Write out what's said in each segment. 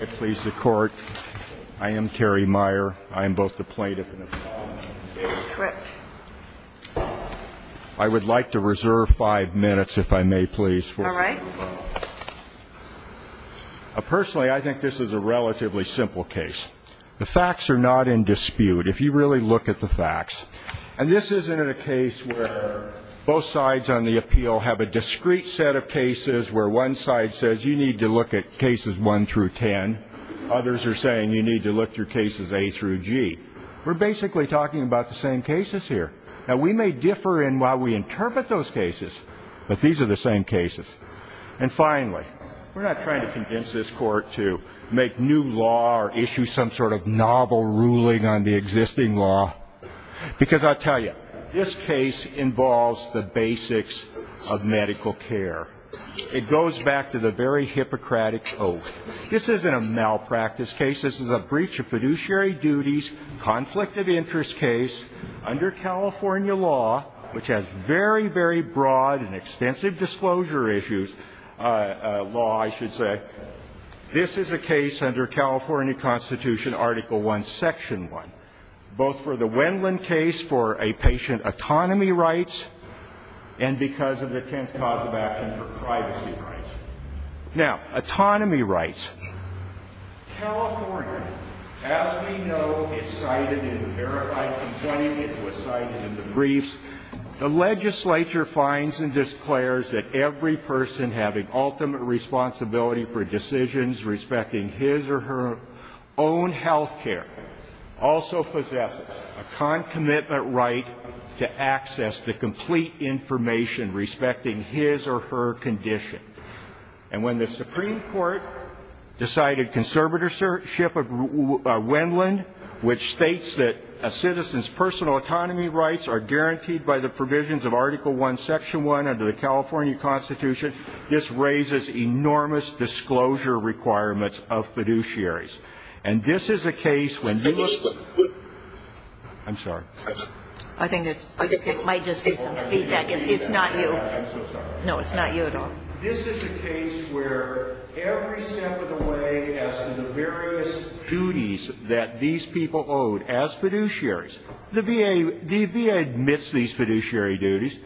I please the court. I am Terry Meier. I am both the plaintiff and the defendant. I would like to reserve five minutes, if I may please. Personally, I think this is a relatively simple case. The facts are not in dispute, if you really look at the facts. And this isn't a case where both sides on the appeal have a discrete set of cases where one side says you need to look at cases 1 through 10. Others are saying you need to look through cases A through G. We're basically talking about the same cases here. Now, we may differ in how we interpret those cases, but these are the same cases. And finally, we're not trying to convince this court to make new law or issue some sort of novel ruling on the existing law. Because I'll tell you, this case involves the basics of medical care. It goes back to the very Hippocratic oath. This isn't a malpractice case. This is a breach of fiduciary duties, conflict of interest case under California law, which has very, very broad and extensive disclosure issues. Law, I should say. This is a case under California Constitution Article I, Section 1, both for the Wendlandt case for a patient autonomy rights and because of the 10th cause of action for privacy rights. Now, autonomy rights. California, as we know, is cited in the verified complainant. It was cited in the briefs. The legislature finds and declares that every person having ultimate responsibility for decisions respecting his or her own health care also possesses a concomitant right to access the complete information respecting his or her condition. And when the Supreme Court decided conservatorship of Wendlandt, which states that a citizen's personal autonomy rights are guaranteed by the provisions of Article I, Section 1 under the California Constitution, this raises enormous disclosure requirements of fiduciaries. And this is a case when you look at the various duties that these people owe as fiduciaries. The VA admits these fiduciary duties.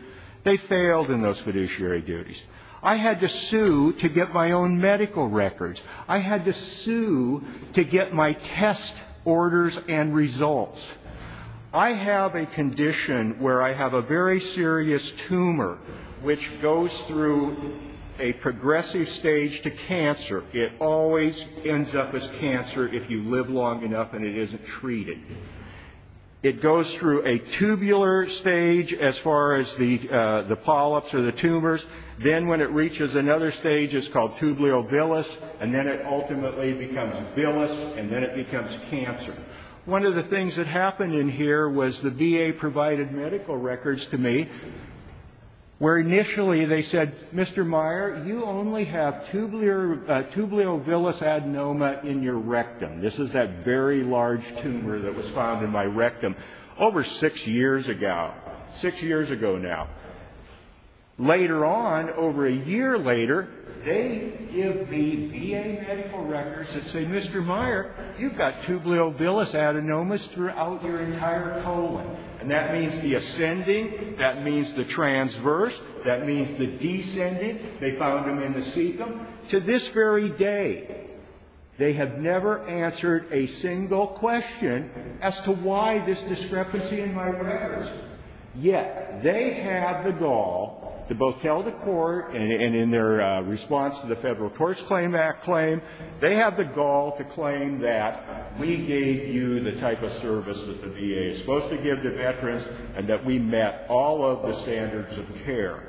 They failed in those fiduciary duties. I had to sue to get my own medical records. I had to sue to get my test orders and results. I have a condition where I have a very serious tumor, which goes through a progressive stage to cancer. It always ends up as cancer if you live long enough and it isn't treated. It goes through a tubular stage as far as the polyps or the tumors. Then when it reaches another stage, it's called tubulovilus, and then it ultimately becomes villus, and then it becomes cancer. One of the things that happened in here was the VA provided medical records to me where initially they said, Mr. Meyer, you only have tubulovilus adenoma in your rectum. This is that very large tumor that was found in my rectum over six years ago, six years ago now. Later on, over a year later, they give the VA medical records that say, Mr. Meyer, you've got tubulovilus adenomas throughout your entire colon, and that means the ascending, that means the transverse, that means the descending. They found them in the cecum. To this very day, they have never answered a single question as to why this discrepancy in my records. Yet they have the gall to both tell the court, and in their response to the Federal Courts Claim Act claim, they have the gall to claim that we gave you the type of service that the VA is supposed to give to veterans and that we met all of the standards of care.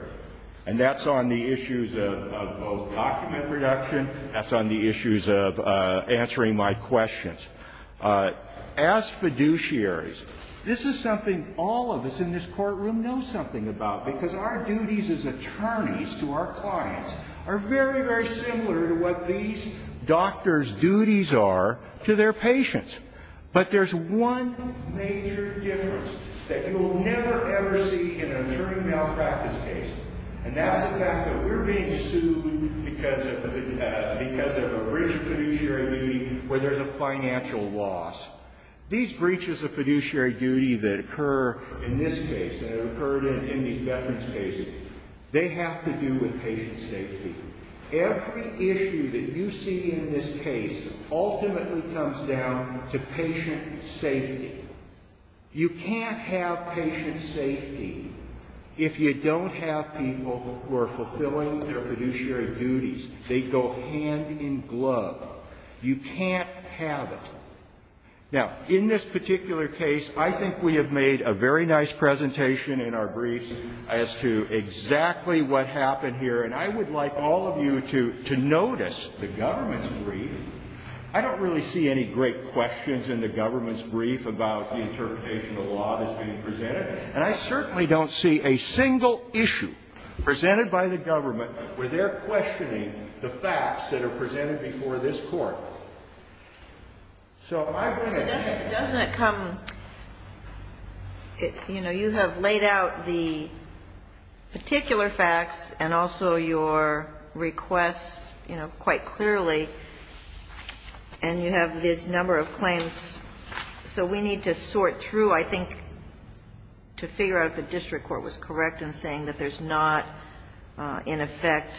And that's on the issues of both document production. That's on the issues of answering my questions. As fiduciaries, this is something all of us in this courtroom know something about, because our duties as attorneys to our clients are very, very similar to what these doctors' duties are to their patients. But there's one major difference that you will never, ever see in an attorney malpractice case, and that's the fact that we're being sued because of a breach of fiduciary duty where there's a financial loss. These breaches of fiduciary duty that occur in this case, that have occurred in these veterans' cases, they have to do with patient safety. Every issue that you see in this case ultimately comes down to patient safety. You can't have patient safety if you don't have people who are fulfilling their fiduciary duties. They go hand in glove. You can't have it. Now, in this particular case, I think we have made a very nice presentation in our briefs as to exactly what happened here. And I would like all of you to notice the government's brief. I don't really see any great questions in the government's brief about the interpretation of the law that's being presented, and I certainly don't see a single issue presented by the government where they're questioning the facts that are presented before this Court. So I'm going to... Doesn't it come, you know, you have laid out the particular facts and also your requests, you know, quite clearly, and you have this number of claims. So we need to sort through, I think, to figure out if the district court was correct in saying that there's not, in effect,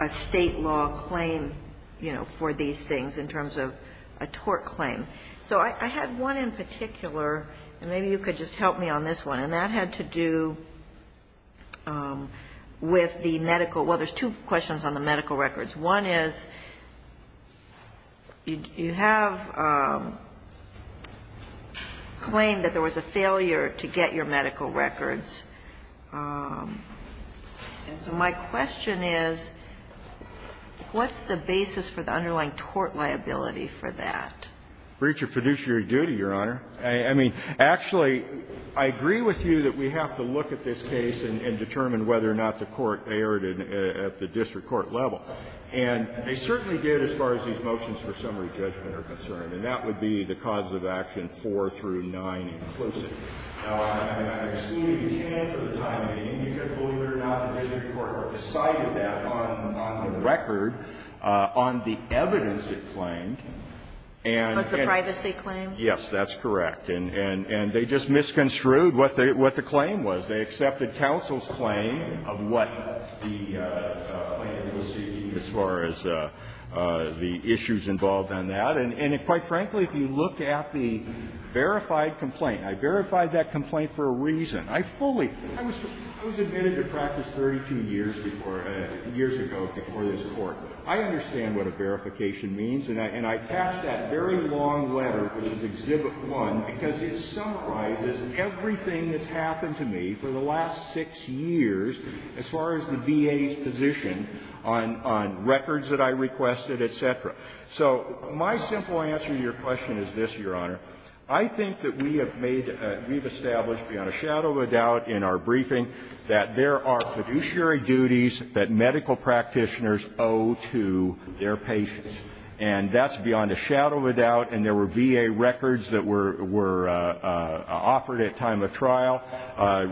a State law claim, you know, for these things in terms of a tort claim. So I had one in particular, and maybe you could just help me on this one, and that had to do with the medical... Well, there's two questions on the medical records. One is you have claimed that there was a failure to get your medical records. And so my question is, what's the basis for the underlying tort liability for that? Breach of fiduciary duty, Your Honor. I mean, actually, I agree with you that we have to look at this case and determine whether or not the court erred at the district court level. And they certainly did as far as these motions for summary judgment are concerned, and that would be the causes of action 4 through 9 inclusive. Now, I'm assuming you can for the time being. You can believe it or not, the district court recited that on the record on the evidence it claimed. And... Was the privacy claim? Yes, that's correct. And they just misconstrued what the claim was. They accepted counsel's claim of what the plaintiff was seeking as far as the issues involved in that. And quite frankly, if you look at the verified complaint, I verified that complaint for a reason. I fully ---- I was admitted to practice 32 years before ---- years ago before this Court. I understand what a verification means, and I attach that very long letter, which is Exhibit 1, because it summarizes everything that's happened to me for the last six years as far as the VA's position on records that I requested, et cetera. So my simple answer to your question is this, Your Honor. I think that we have made ---- we've established beyond a shadow of a doubt in our briefing that there are fiduciary duties that medical practitioners owe to their patients. And that's beyond a shadow of a doubt, and there were VA records that were offered at time of trial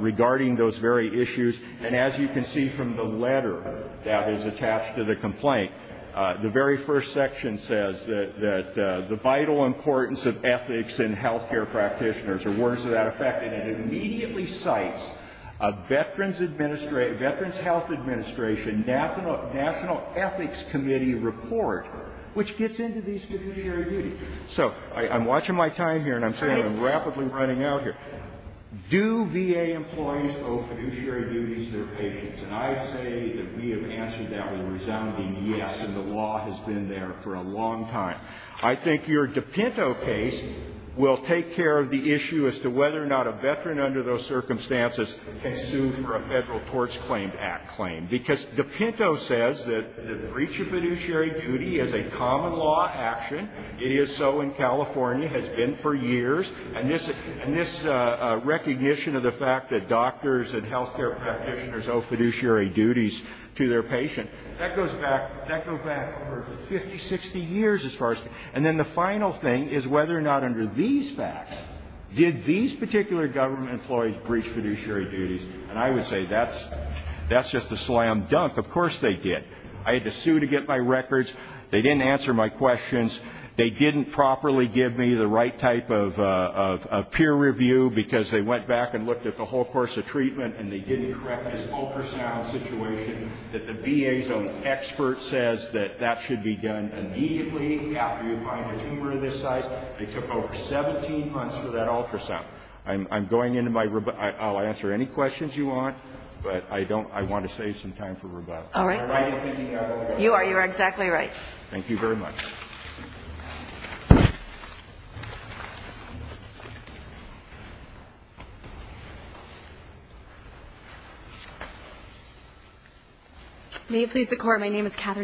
regarding those very issues. And as you can see from the letter that is attached to the complaint, the very first section says that the vital importance of ethics in health care practitioners are words of that effect, and it immediately cites a Veterans Administration ---- Veterans Health Administration National Ethics Committee report, which gets into these fiduciary duties. So I'm watching my time here, and I'm saying I'm rapidly running out here. And I say that we have answered that with a resounding yes, and the law has been there for a long time. I think your DePinto case will take care of the issue as to whether or not a Veteran under those circumstances can sue for a Federal Torts Claim Act claim, because DePinto says that the breach of fiduciary duty is a common law action. It is so in California, has been for years. And this recognition of the fact that doctors and health care practitioners owe fiduciary duties to their patient, that goes back over 50, 60 years as far as ---- And then the final thing is whether or not under these facts did these particular government employees breach fiduciary duties. And I would say that's just a slam dunk. Of course they did. I had to sue to get my records. They didn't answer my questions. They didn't properly give me the right type of peer review, because they went back and looked at the whole course of treatment, and they didn't correct this ultrasound situation that the VA's own expert says that that should be done immediately after you find a tumor of this size. They took over 17 months for that ultrasound. I'm going into my rebuttal. I'll answer any questions you want, but I want to save some time for rebuttal. Am I right in thinking that way? You are. You are exactly right. Thank you very much.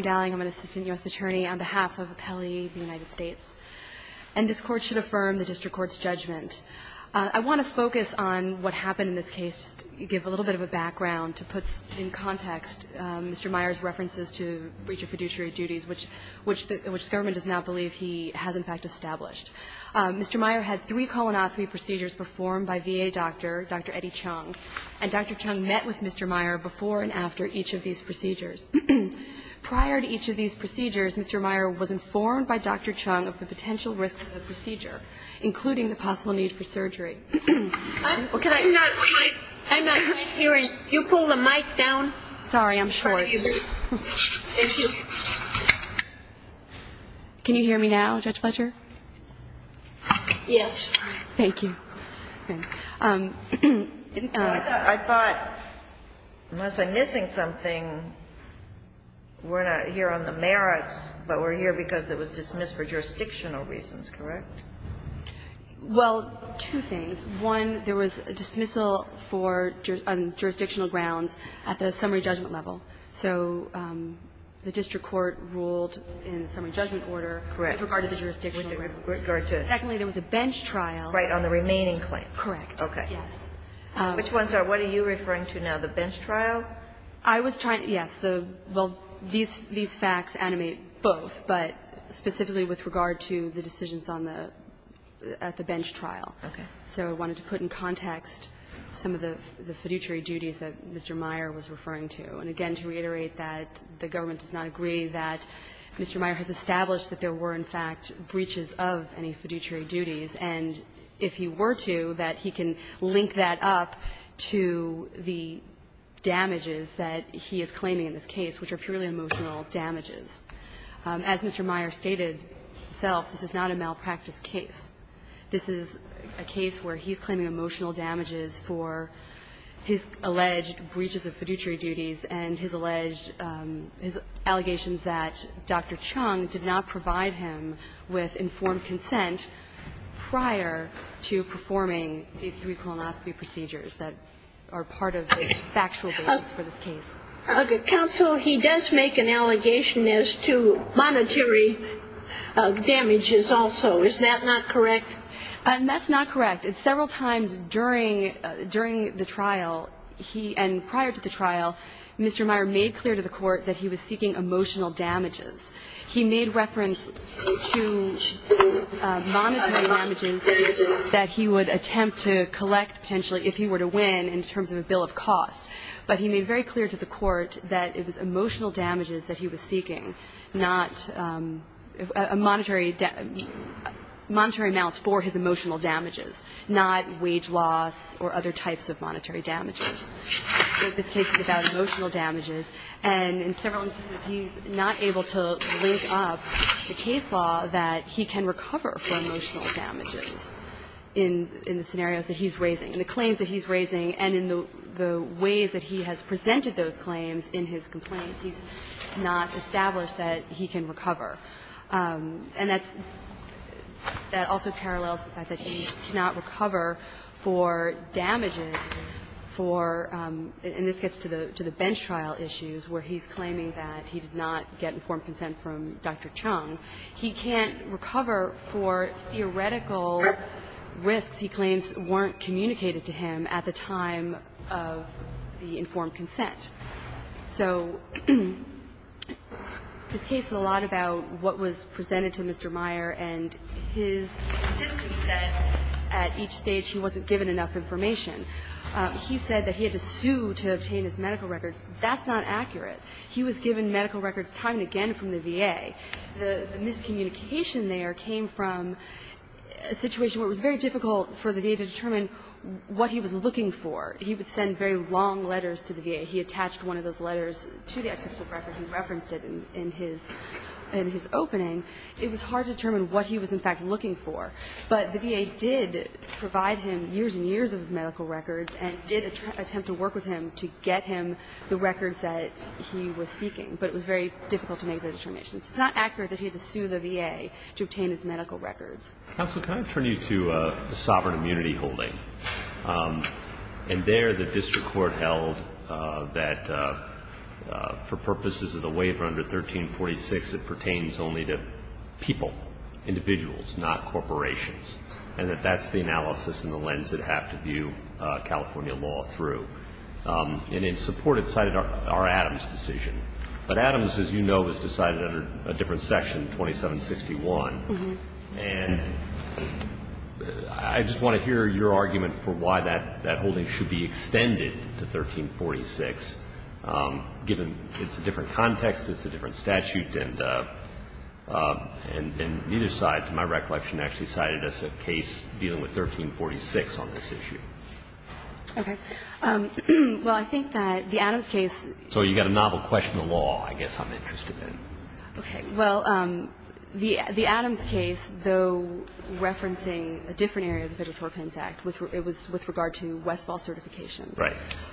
Dalling, I'm an assistant U.S. attorney on behalf of Appellee United States. And this Court should affirm the district court's judgment. I want to focus on what happened in this case, give a little bit of a background to put in context Mr. Meyer's references to breach of fiduciary duties, which the government does not believe he has in fact established. Mr. Meyer had three colonoscopy procedures performed by VA doctor, Dr. Eddie Chung, and Dr. Chung met with Mr. Meyer before and after each of these procedures. Prior to each of these procedures, Mr. Meyer was informed by Dr. Chung of the potential I'm not quite hearing. Can you pull the mic down? Sorry, I'm short. Thank you. Can you hear me now, Judge Fletcher? Yes. Thank you. I thought, unless I'm missing something, we're not here on the merits, but we're here because it was dismissed for jurisdictional reasons, correct? Well, two things. One, there was a dismissal for jurisdictional grounds at the summary judgment level. So the district court ruled in summary judgment order with regard to the jurisdictional grounds. Correct. With regard to? Secondly, there was a bench trial. Right, on the remaining claim. Correct. Okay. Yes. Which ones are? What are you referring to now? The bench trial? I was trying to yes. Well, these facts animate both, but specifically with regard to the decisions on the at the bench trial. Okay. So I wanted to put in context some of the fiduciary duties that Mr. Meyer was referring to. And again, to reiterate that the government does not agree that Mr. Meyer has established that there were, in fact, breaches of any fiduciary duties, and if he were to, that he can link that up to the damages that he is claiming in this case, which are purely emotional damages. As Mr. Meyer stated himself, this is not a malpractice case. This is a case where he's claiming emotional damages for his alleged breaches of fiduciary duties and his alleged allegations that Dr. Chung did not provide him with informed consent prior to performing these three colonoscopy procedures that are part of the factual basis for this case. Counsel, he does make an allegation as to monetary damages also. Is that not correct? That's not correct. Several times during the trial, and prior to the trial, Mr. Meyer made clear to the Court that he was seeking emotional damages. He made reference to monetary damages that he would attempt to collect potentially if he were to win in terms of a bill of costs. But he made very clear to the Court that it was emotional damages that he was seeking, not monetary amounts for his emotional damages, not wage loss or other types of monetary damages. So this case is about emotional damages. And in several instances, he's not able to link up the case law that he can recover for emotional damages in the scenarios that he's raising. In the claims that he's raising and in the ways that he has presented those claims in his complaint, he's not established that he can recover. And that's also parallels the fact that he cannot recover for damages for, and this gets to the bench trial issues where he's claiming that he did not get informed consent from Dr. Chung, he can't recover for theoretical risks he claims weren't communicated to him at the time of the informed consent. So this case is a lot about what was presented to Mr. Meyer and his insistence that at each stage he wasn't given enough information. He said that he had to sue to obtain his medical records. That's not accurate. He was given medical records time and again from the VA. The miscommunication there came from a situation where it was very difficult for the VA to determine what he was looking for. He would send very long letters to the VA. He attached one of those letters to the executive record. He referenced it in his opening. It was hard to determine what he was, in fact, looking for. But the VA did provide him years and years of his medical records and did attempt to work with him to get him the records that he was seeking. But it was very difficult to make those determinations. It's not accurate that he had to sue the VA to obtain his medical records. Counsel, can I turn you to the Sovereign Immunity Holding? And there the district court held that for purposes of the waiver under 1346, it pertains only to people, individuals, not corporations, and that that's the analysis and the lens it had to view California law through. And in support, it cited our Adams decision. But Adams, as you know, was decided under a different section, 2761. And I just want to hear your argument for why that holding should be extended to 1346, given it's a different context, it's a different statute, and neither side, to my recollection, actually cited as a case dealing with 1346 on this issue. Okay. Well, I think that the Adams case. So you've got a novel question of law, I guess, I'm interested in. Okay. Well, the Adams case, though referencing a different area of the Federal Tort Claims Act, it was with regard to Westfall certifications. Right.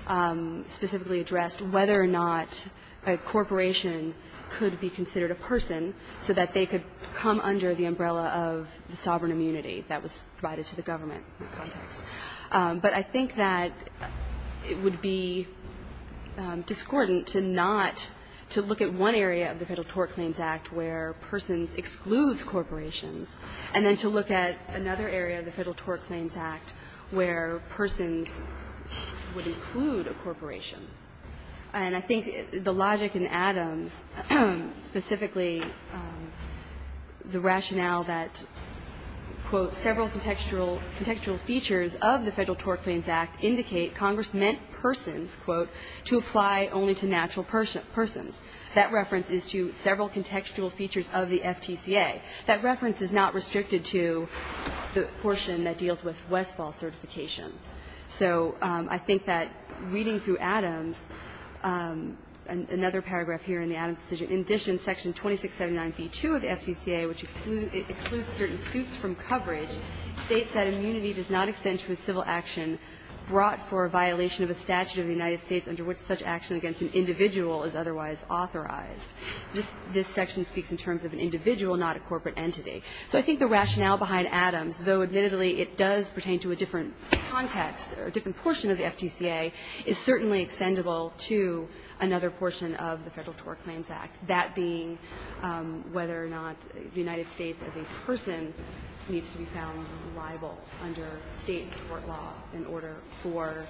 It specifically addressed whether or not a corporation could be considered a person so that they could come under the umbrella of the sovereign immunity that was provided to the government in that context. But I think that it would be discordant to not to look at one area of the Federal Tort Claims Act where persons excludes corporations, and then to look at another area of the Federal Tort Claims Act where persons would include a corporation. And I think the logic in Adams, specifically the rationale that, quote, several contextual features of the Federal Tort Claims Act indicate Congress meant persons, quote, to apply only to natural persons. That reference is to several contextual features of the FTCA. That reference is not restricted to the portion that deals with Westfall certification. So I think that reading through Adams, another paragraph here in the Adams decision, in addition, Section 2679b2 of the FTCA, which excludes certain suits from coverage, states that immunity does not extend to a civil action brought for a violation of a statute of the United States under which such action against an individual is otherwise authorized. This section speaks in terms of an individual, not a corporate entity. So I think the rationale behind Adams, though admittedly it does pertain to a different context or a different portion of the FTCA, is certainly extendable to another portion of the Federal Tort Claims Act, that being whether or not the United States as a person needs to be found liable under State tort law in order for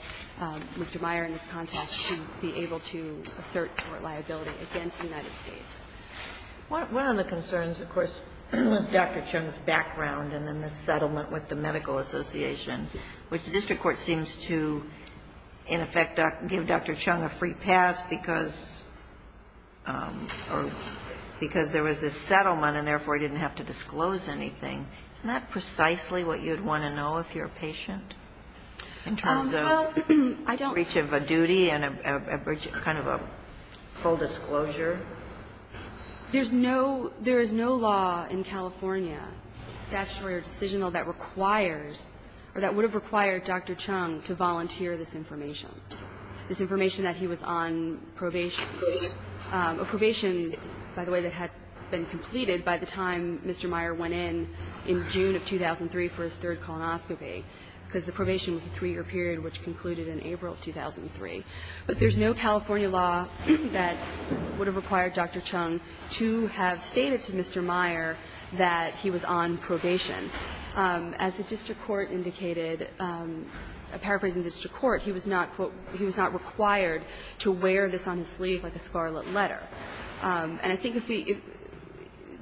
Mr. Meyer in this context to be able to assert tort liability against the United States. One of the concerns, of course, with Dr. Chung's background and in the settlement with the Medical Association, which the district court seems to, in effect, give Dr. Chung a free pass because there was this settlement and therefore he didn't have to disclose anything, isn't that precisely what you would want to know if you're a patient in terms of the breach of a duty and a kind of a full disclosure? There is no law in California, statutory or decisional, that requires a patient or that would have required Dr. Chung to volunteer this information, this information that he was on probation, a probation, by the way, that had been completed by the time Mr. Meyer went in in June of 2003 for his third colonoscopy because the probation was a three-year period which concluded in April of 2003. But there's no California law that would have required Dr. Chung to have stated to Mr. Meyer that he was on probation. As the district court indicated, paraphrasing the district court, he was not, quote, he was not required to wear this on his sleeve like a scarlet letter. And I think if we, if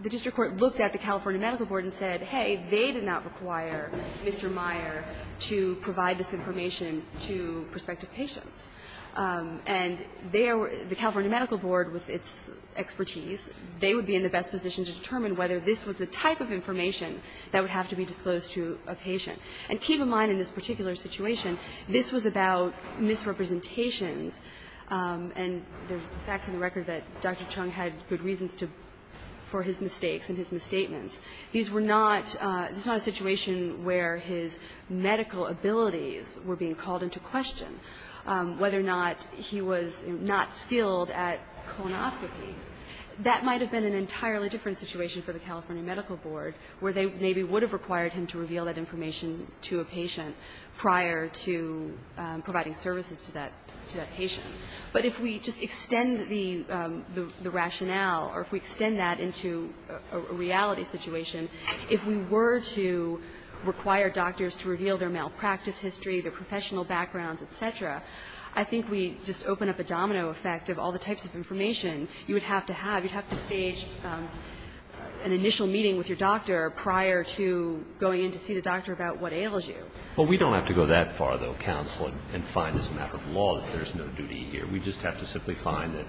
the district court looked at the California Medical Board and said, hey, they did not require Mr. Meyer to provide this information to prospective patients. And they are, the California Medical Board, with its expertise, they would be in the best position to determine whether this was the type of information that would have to be disclosed to a patient. And keep in mind in this particular situation, this was about misrepresentations and the facts of the record that Dr. Chung had good reasons to, for his mistakes and his misstatements. These were not, this was not a situation where his medical abilities were being called into question, whether or not he was not skilled at colonoscopies. That might have been an entirely different situation for the California Medical Board, where they maybe would have required him to reveal that information to a patient prior to providing services to that patient. But if we just extend the rationale or if we extend that into a reality situation, if we were to require doctors to reveal their malpractice history, their professional backgrounds, et cetera, I think we just open up a domino effect of all the types of information you would have to have. You'd have to stage an initial meeting with your doctor prior to going in to see the doctor about what ails you. But we don't have to go that far, though, counsel, and find as a matter of law that there's no duty here. We just have to simply find that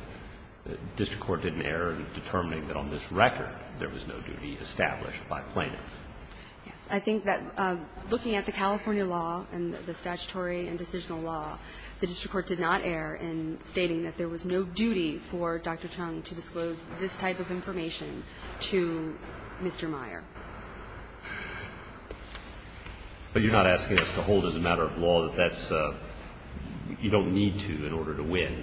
the district court did an error in determining that on this record there was no duty established by plaintiffs. Yes. I think that looking at the California law and the statutory and decisional law, the district court did not err in stating that there was no duty for Dr. Chung to disclose this type of information to Mr. Meyer. But you're not asking us to hold as a matter of law that that's you don't need to in order to win,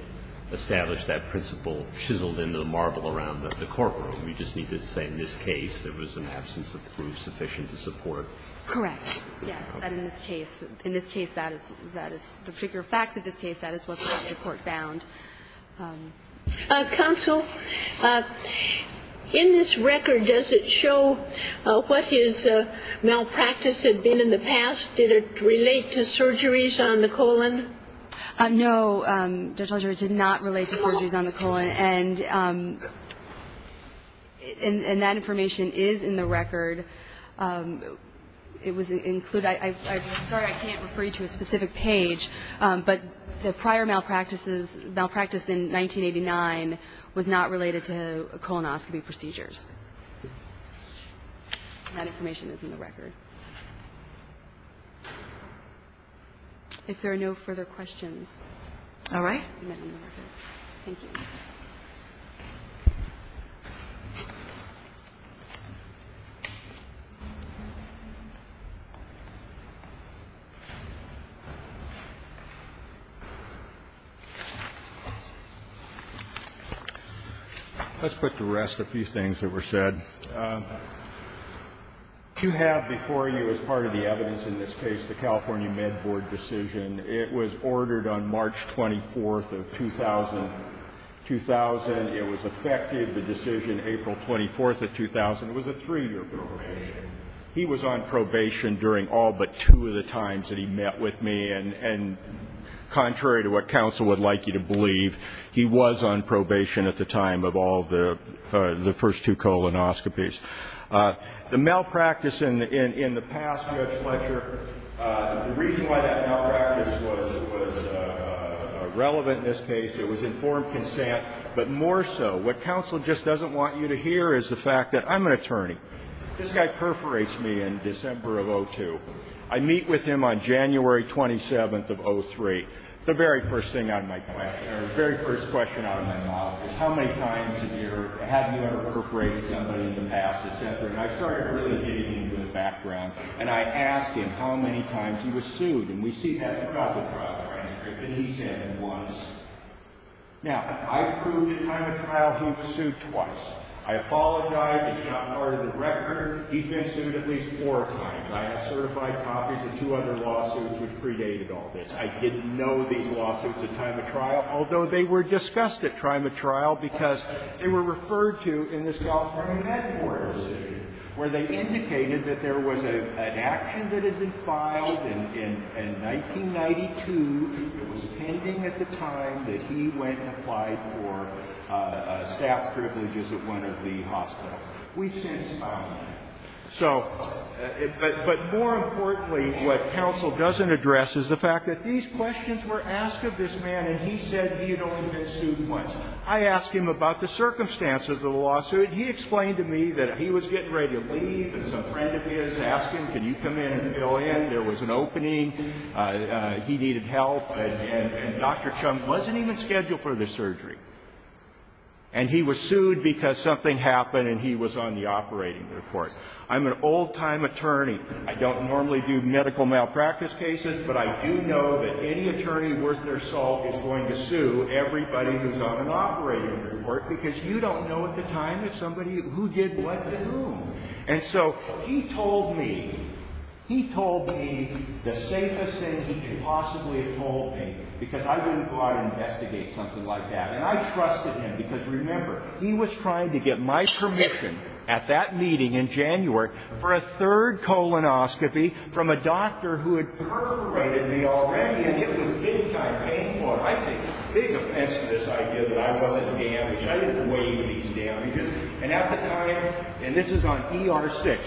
establish that principle chiseled into the marble around the courtroom. You just need to say in this case there was an absence of proof sufficient to support Correct. Yes. In this case. In this case, that is the particular facts of this case. That is what the district court found. Counsel, in this record, does it show what his malpractice had been in the past? Did it relate to surgeries on the colon? No, Judge Alger. It did not relate to surgeries on the colon. And that information is in the record. It was included. I'm sorry I can't refer you to a specific page, but the prior malpractice in 1989 was not related to colonoscopy procedures. That information is in the record. If there are no further questions. All right. Thank you. Let's put to rest a few things that were said. You have before you as part of the evidence in this case the California Med Board decision. It was ordered on March 24th of 2000. It was effective, the decision, April 24th of 2000. It was a three-year probation. He was on probation during all but two of the times that he met with me. And contrary to what counsel would like you to believe, he was on probation at the time of all the first two colonoscopies. The malpractice in the past, Judge Fletcher, the reason why that malpractice was relevant in this case, it was informed consent, but more so what counsel just doesn't want you to hear is the fact that I'm an attorney. This guy perforates me in December of 2002. I meet with him on January 27th of 2003. The very first thing out of my question or the very first question out of my mouth is how many times have you ever perforated somebody in the past, et cetera. And I started really digging into his background, and I asked him how many times he was sued. And we see he forgot the trial transcript. And he said once. Now, I proved at time of trial he was sued twice. I apologize. It's not part of the record. He's been sued at least four times. I have certified copies of two other lawsuits which predated all this. I didn't know these lawsuits at time of trial, although they were discussed at time of trial, because they were referred to in the Scholarly Network, where they indicated that there was an action that had been filed in 1992. It was pending at the time that he went and applied for staff privileges at one of the hospitals. We've since filed none. But more importantly, what counsel doesn't address is the fact that these questions were asked of this man, and he said he had only been sued once. I asked him about the circumstances of the lawsuit. He explained to me that he was getting ready to leave, and some friend of his asked him, can you come in and fill in? There was an opening. He needed help. And Dr. Chung wasn't even scheduled for the surgery. And he was sued because something happened, and he was on the operating report. I'm an old-time attorney. I don't normally do medical malpractice cases, but I do know that any attorney worth their salt is going to sue everybody who's on an operating report, because you don't know at the time who did what to whom. And so he told me, he told me the safest thing he could possibly have told me, because I wouldn't go out and investigate something like that. And I trusted him, because remember, he was trying to get my permission at that meeting in January for a third colonoscopy from a doctor who had perforated me already, and it was big-time pain for him. I had a big offense to this idea that I wasn't damaged. I didn't weigh these damages. And at the time, and this is on ER-6,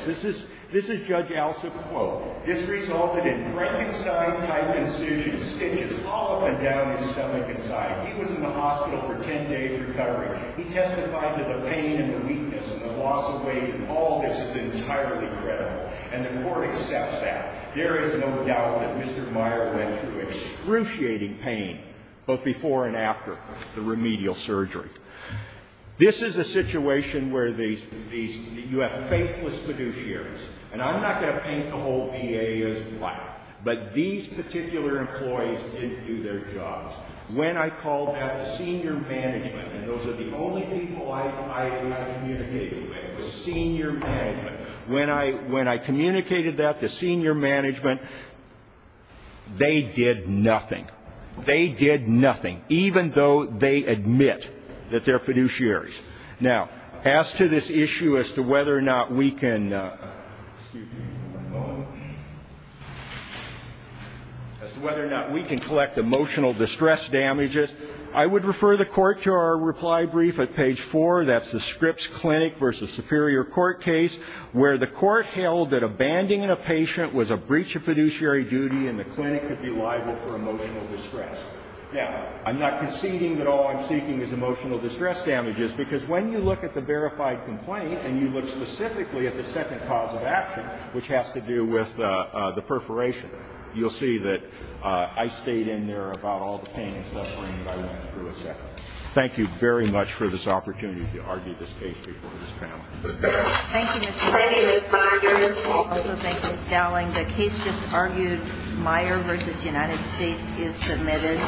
this is Judge Alsop's quote. This resulted in Frankenstein-type incisions, stitches, all up and down his stomach and side. He was in the hospital for 10 days recovering. He testified that the pain and the weakness and the loss of weight and all this is entirely credible. And the Court accepts that. There is no doubt that Mr. Meyer went through excruciating pain both before and after the remedial surgery. This is a situation where these you have faithless fiduciaries. And I'm not going to paint the whole VA as black, but these particular employees didn't do their jobs. When I called that the senior management, and those are the only people I communicated with, it was senior management. When I communicated that to senior management, they did nothing. They did nothing, even though they admit that they're fiduciaries. Now, as to this issue as to whether or not we can collect emotional distress damages, I would refer the Court to our reply brief at page 4. That's the Scripps Clinic v. Superior Court case, where the Court held that abandoning a patient was a breach of fiduciary duty and the clinic could be liable for emotional distress. Now, I'm not conceding that all I'm seeking is emotional distress damages, because when you look at the verified complaint and you look specifically at the second cause of action, which has to do with the perforation, you'll see that I stayed in there about all the pain and suffering that I went through, et cetera. Thank you very much for this opportunity to argue this case before this panel. Thank you, Mr. Gowling. I also thank Ms. Gowling. The case just argued, Meyer v. United States, is submitted.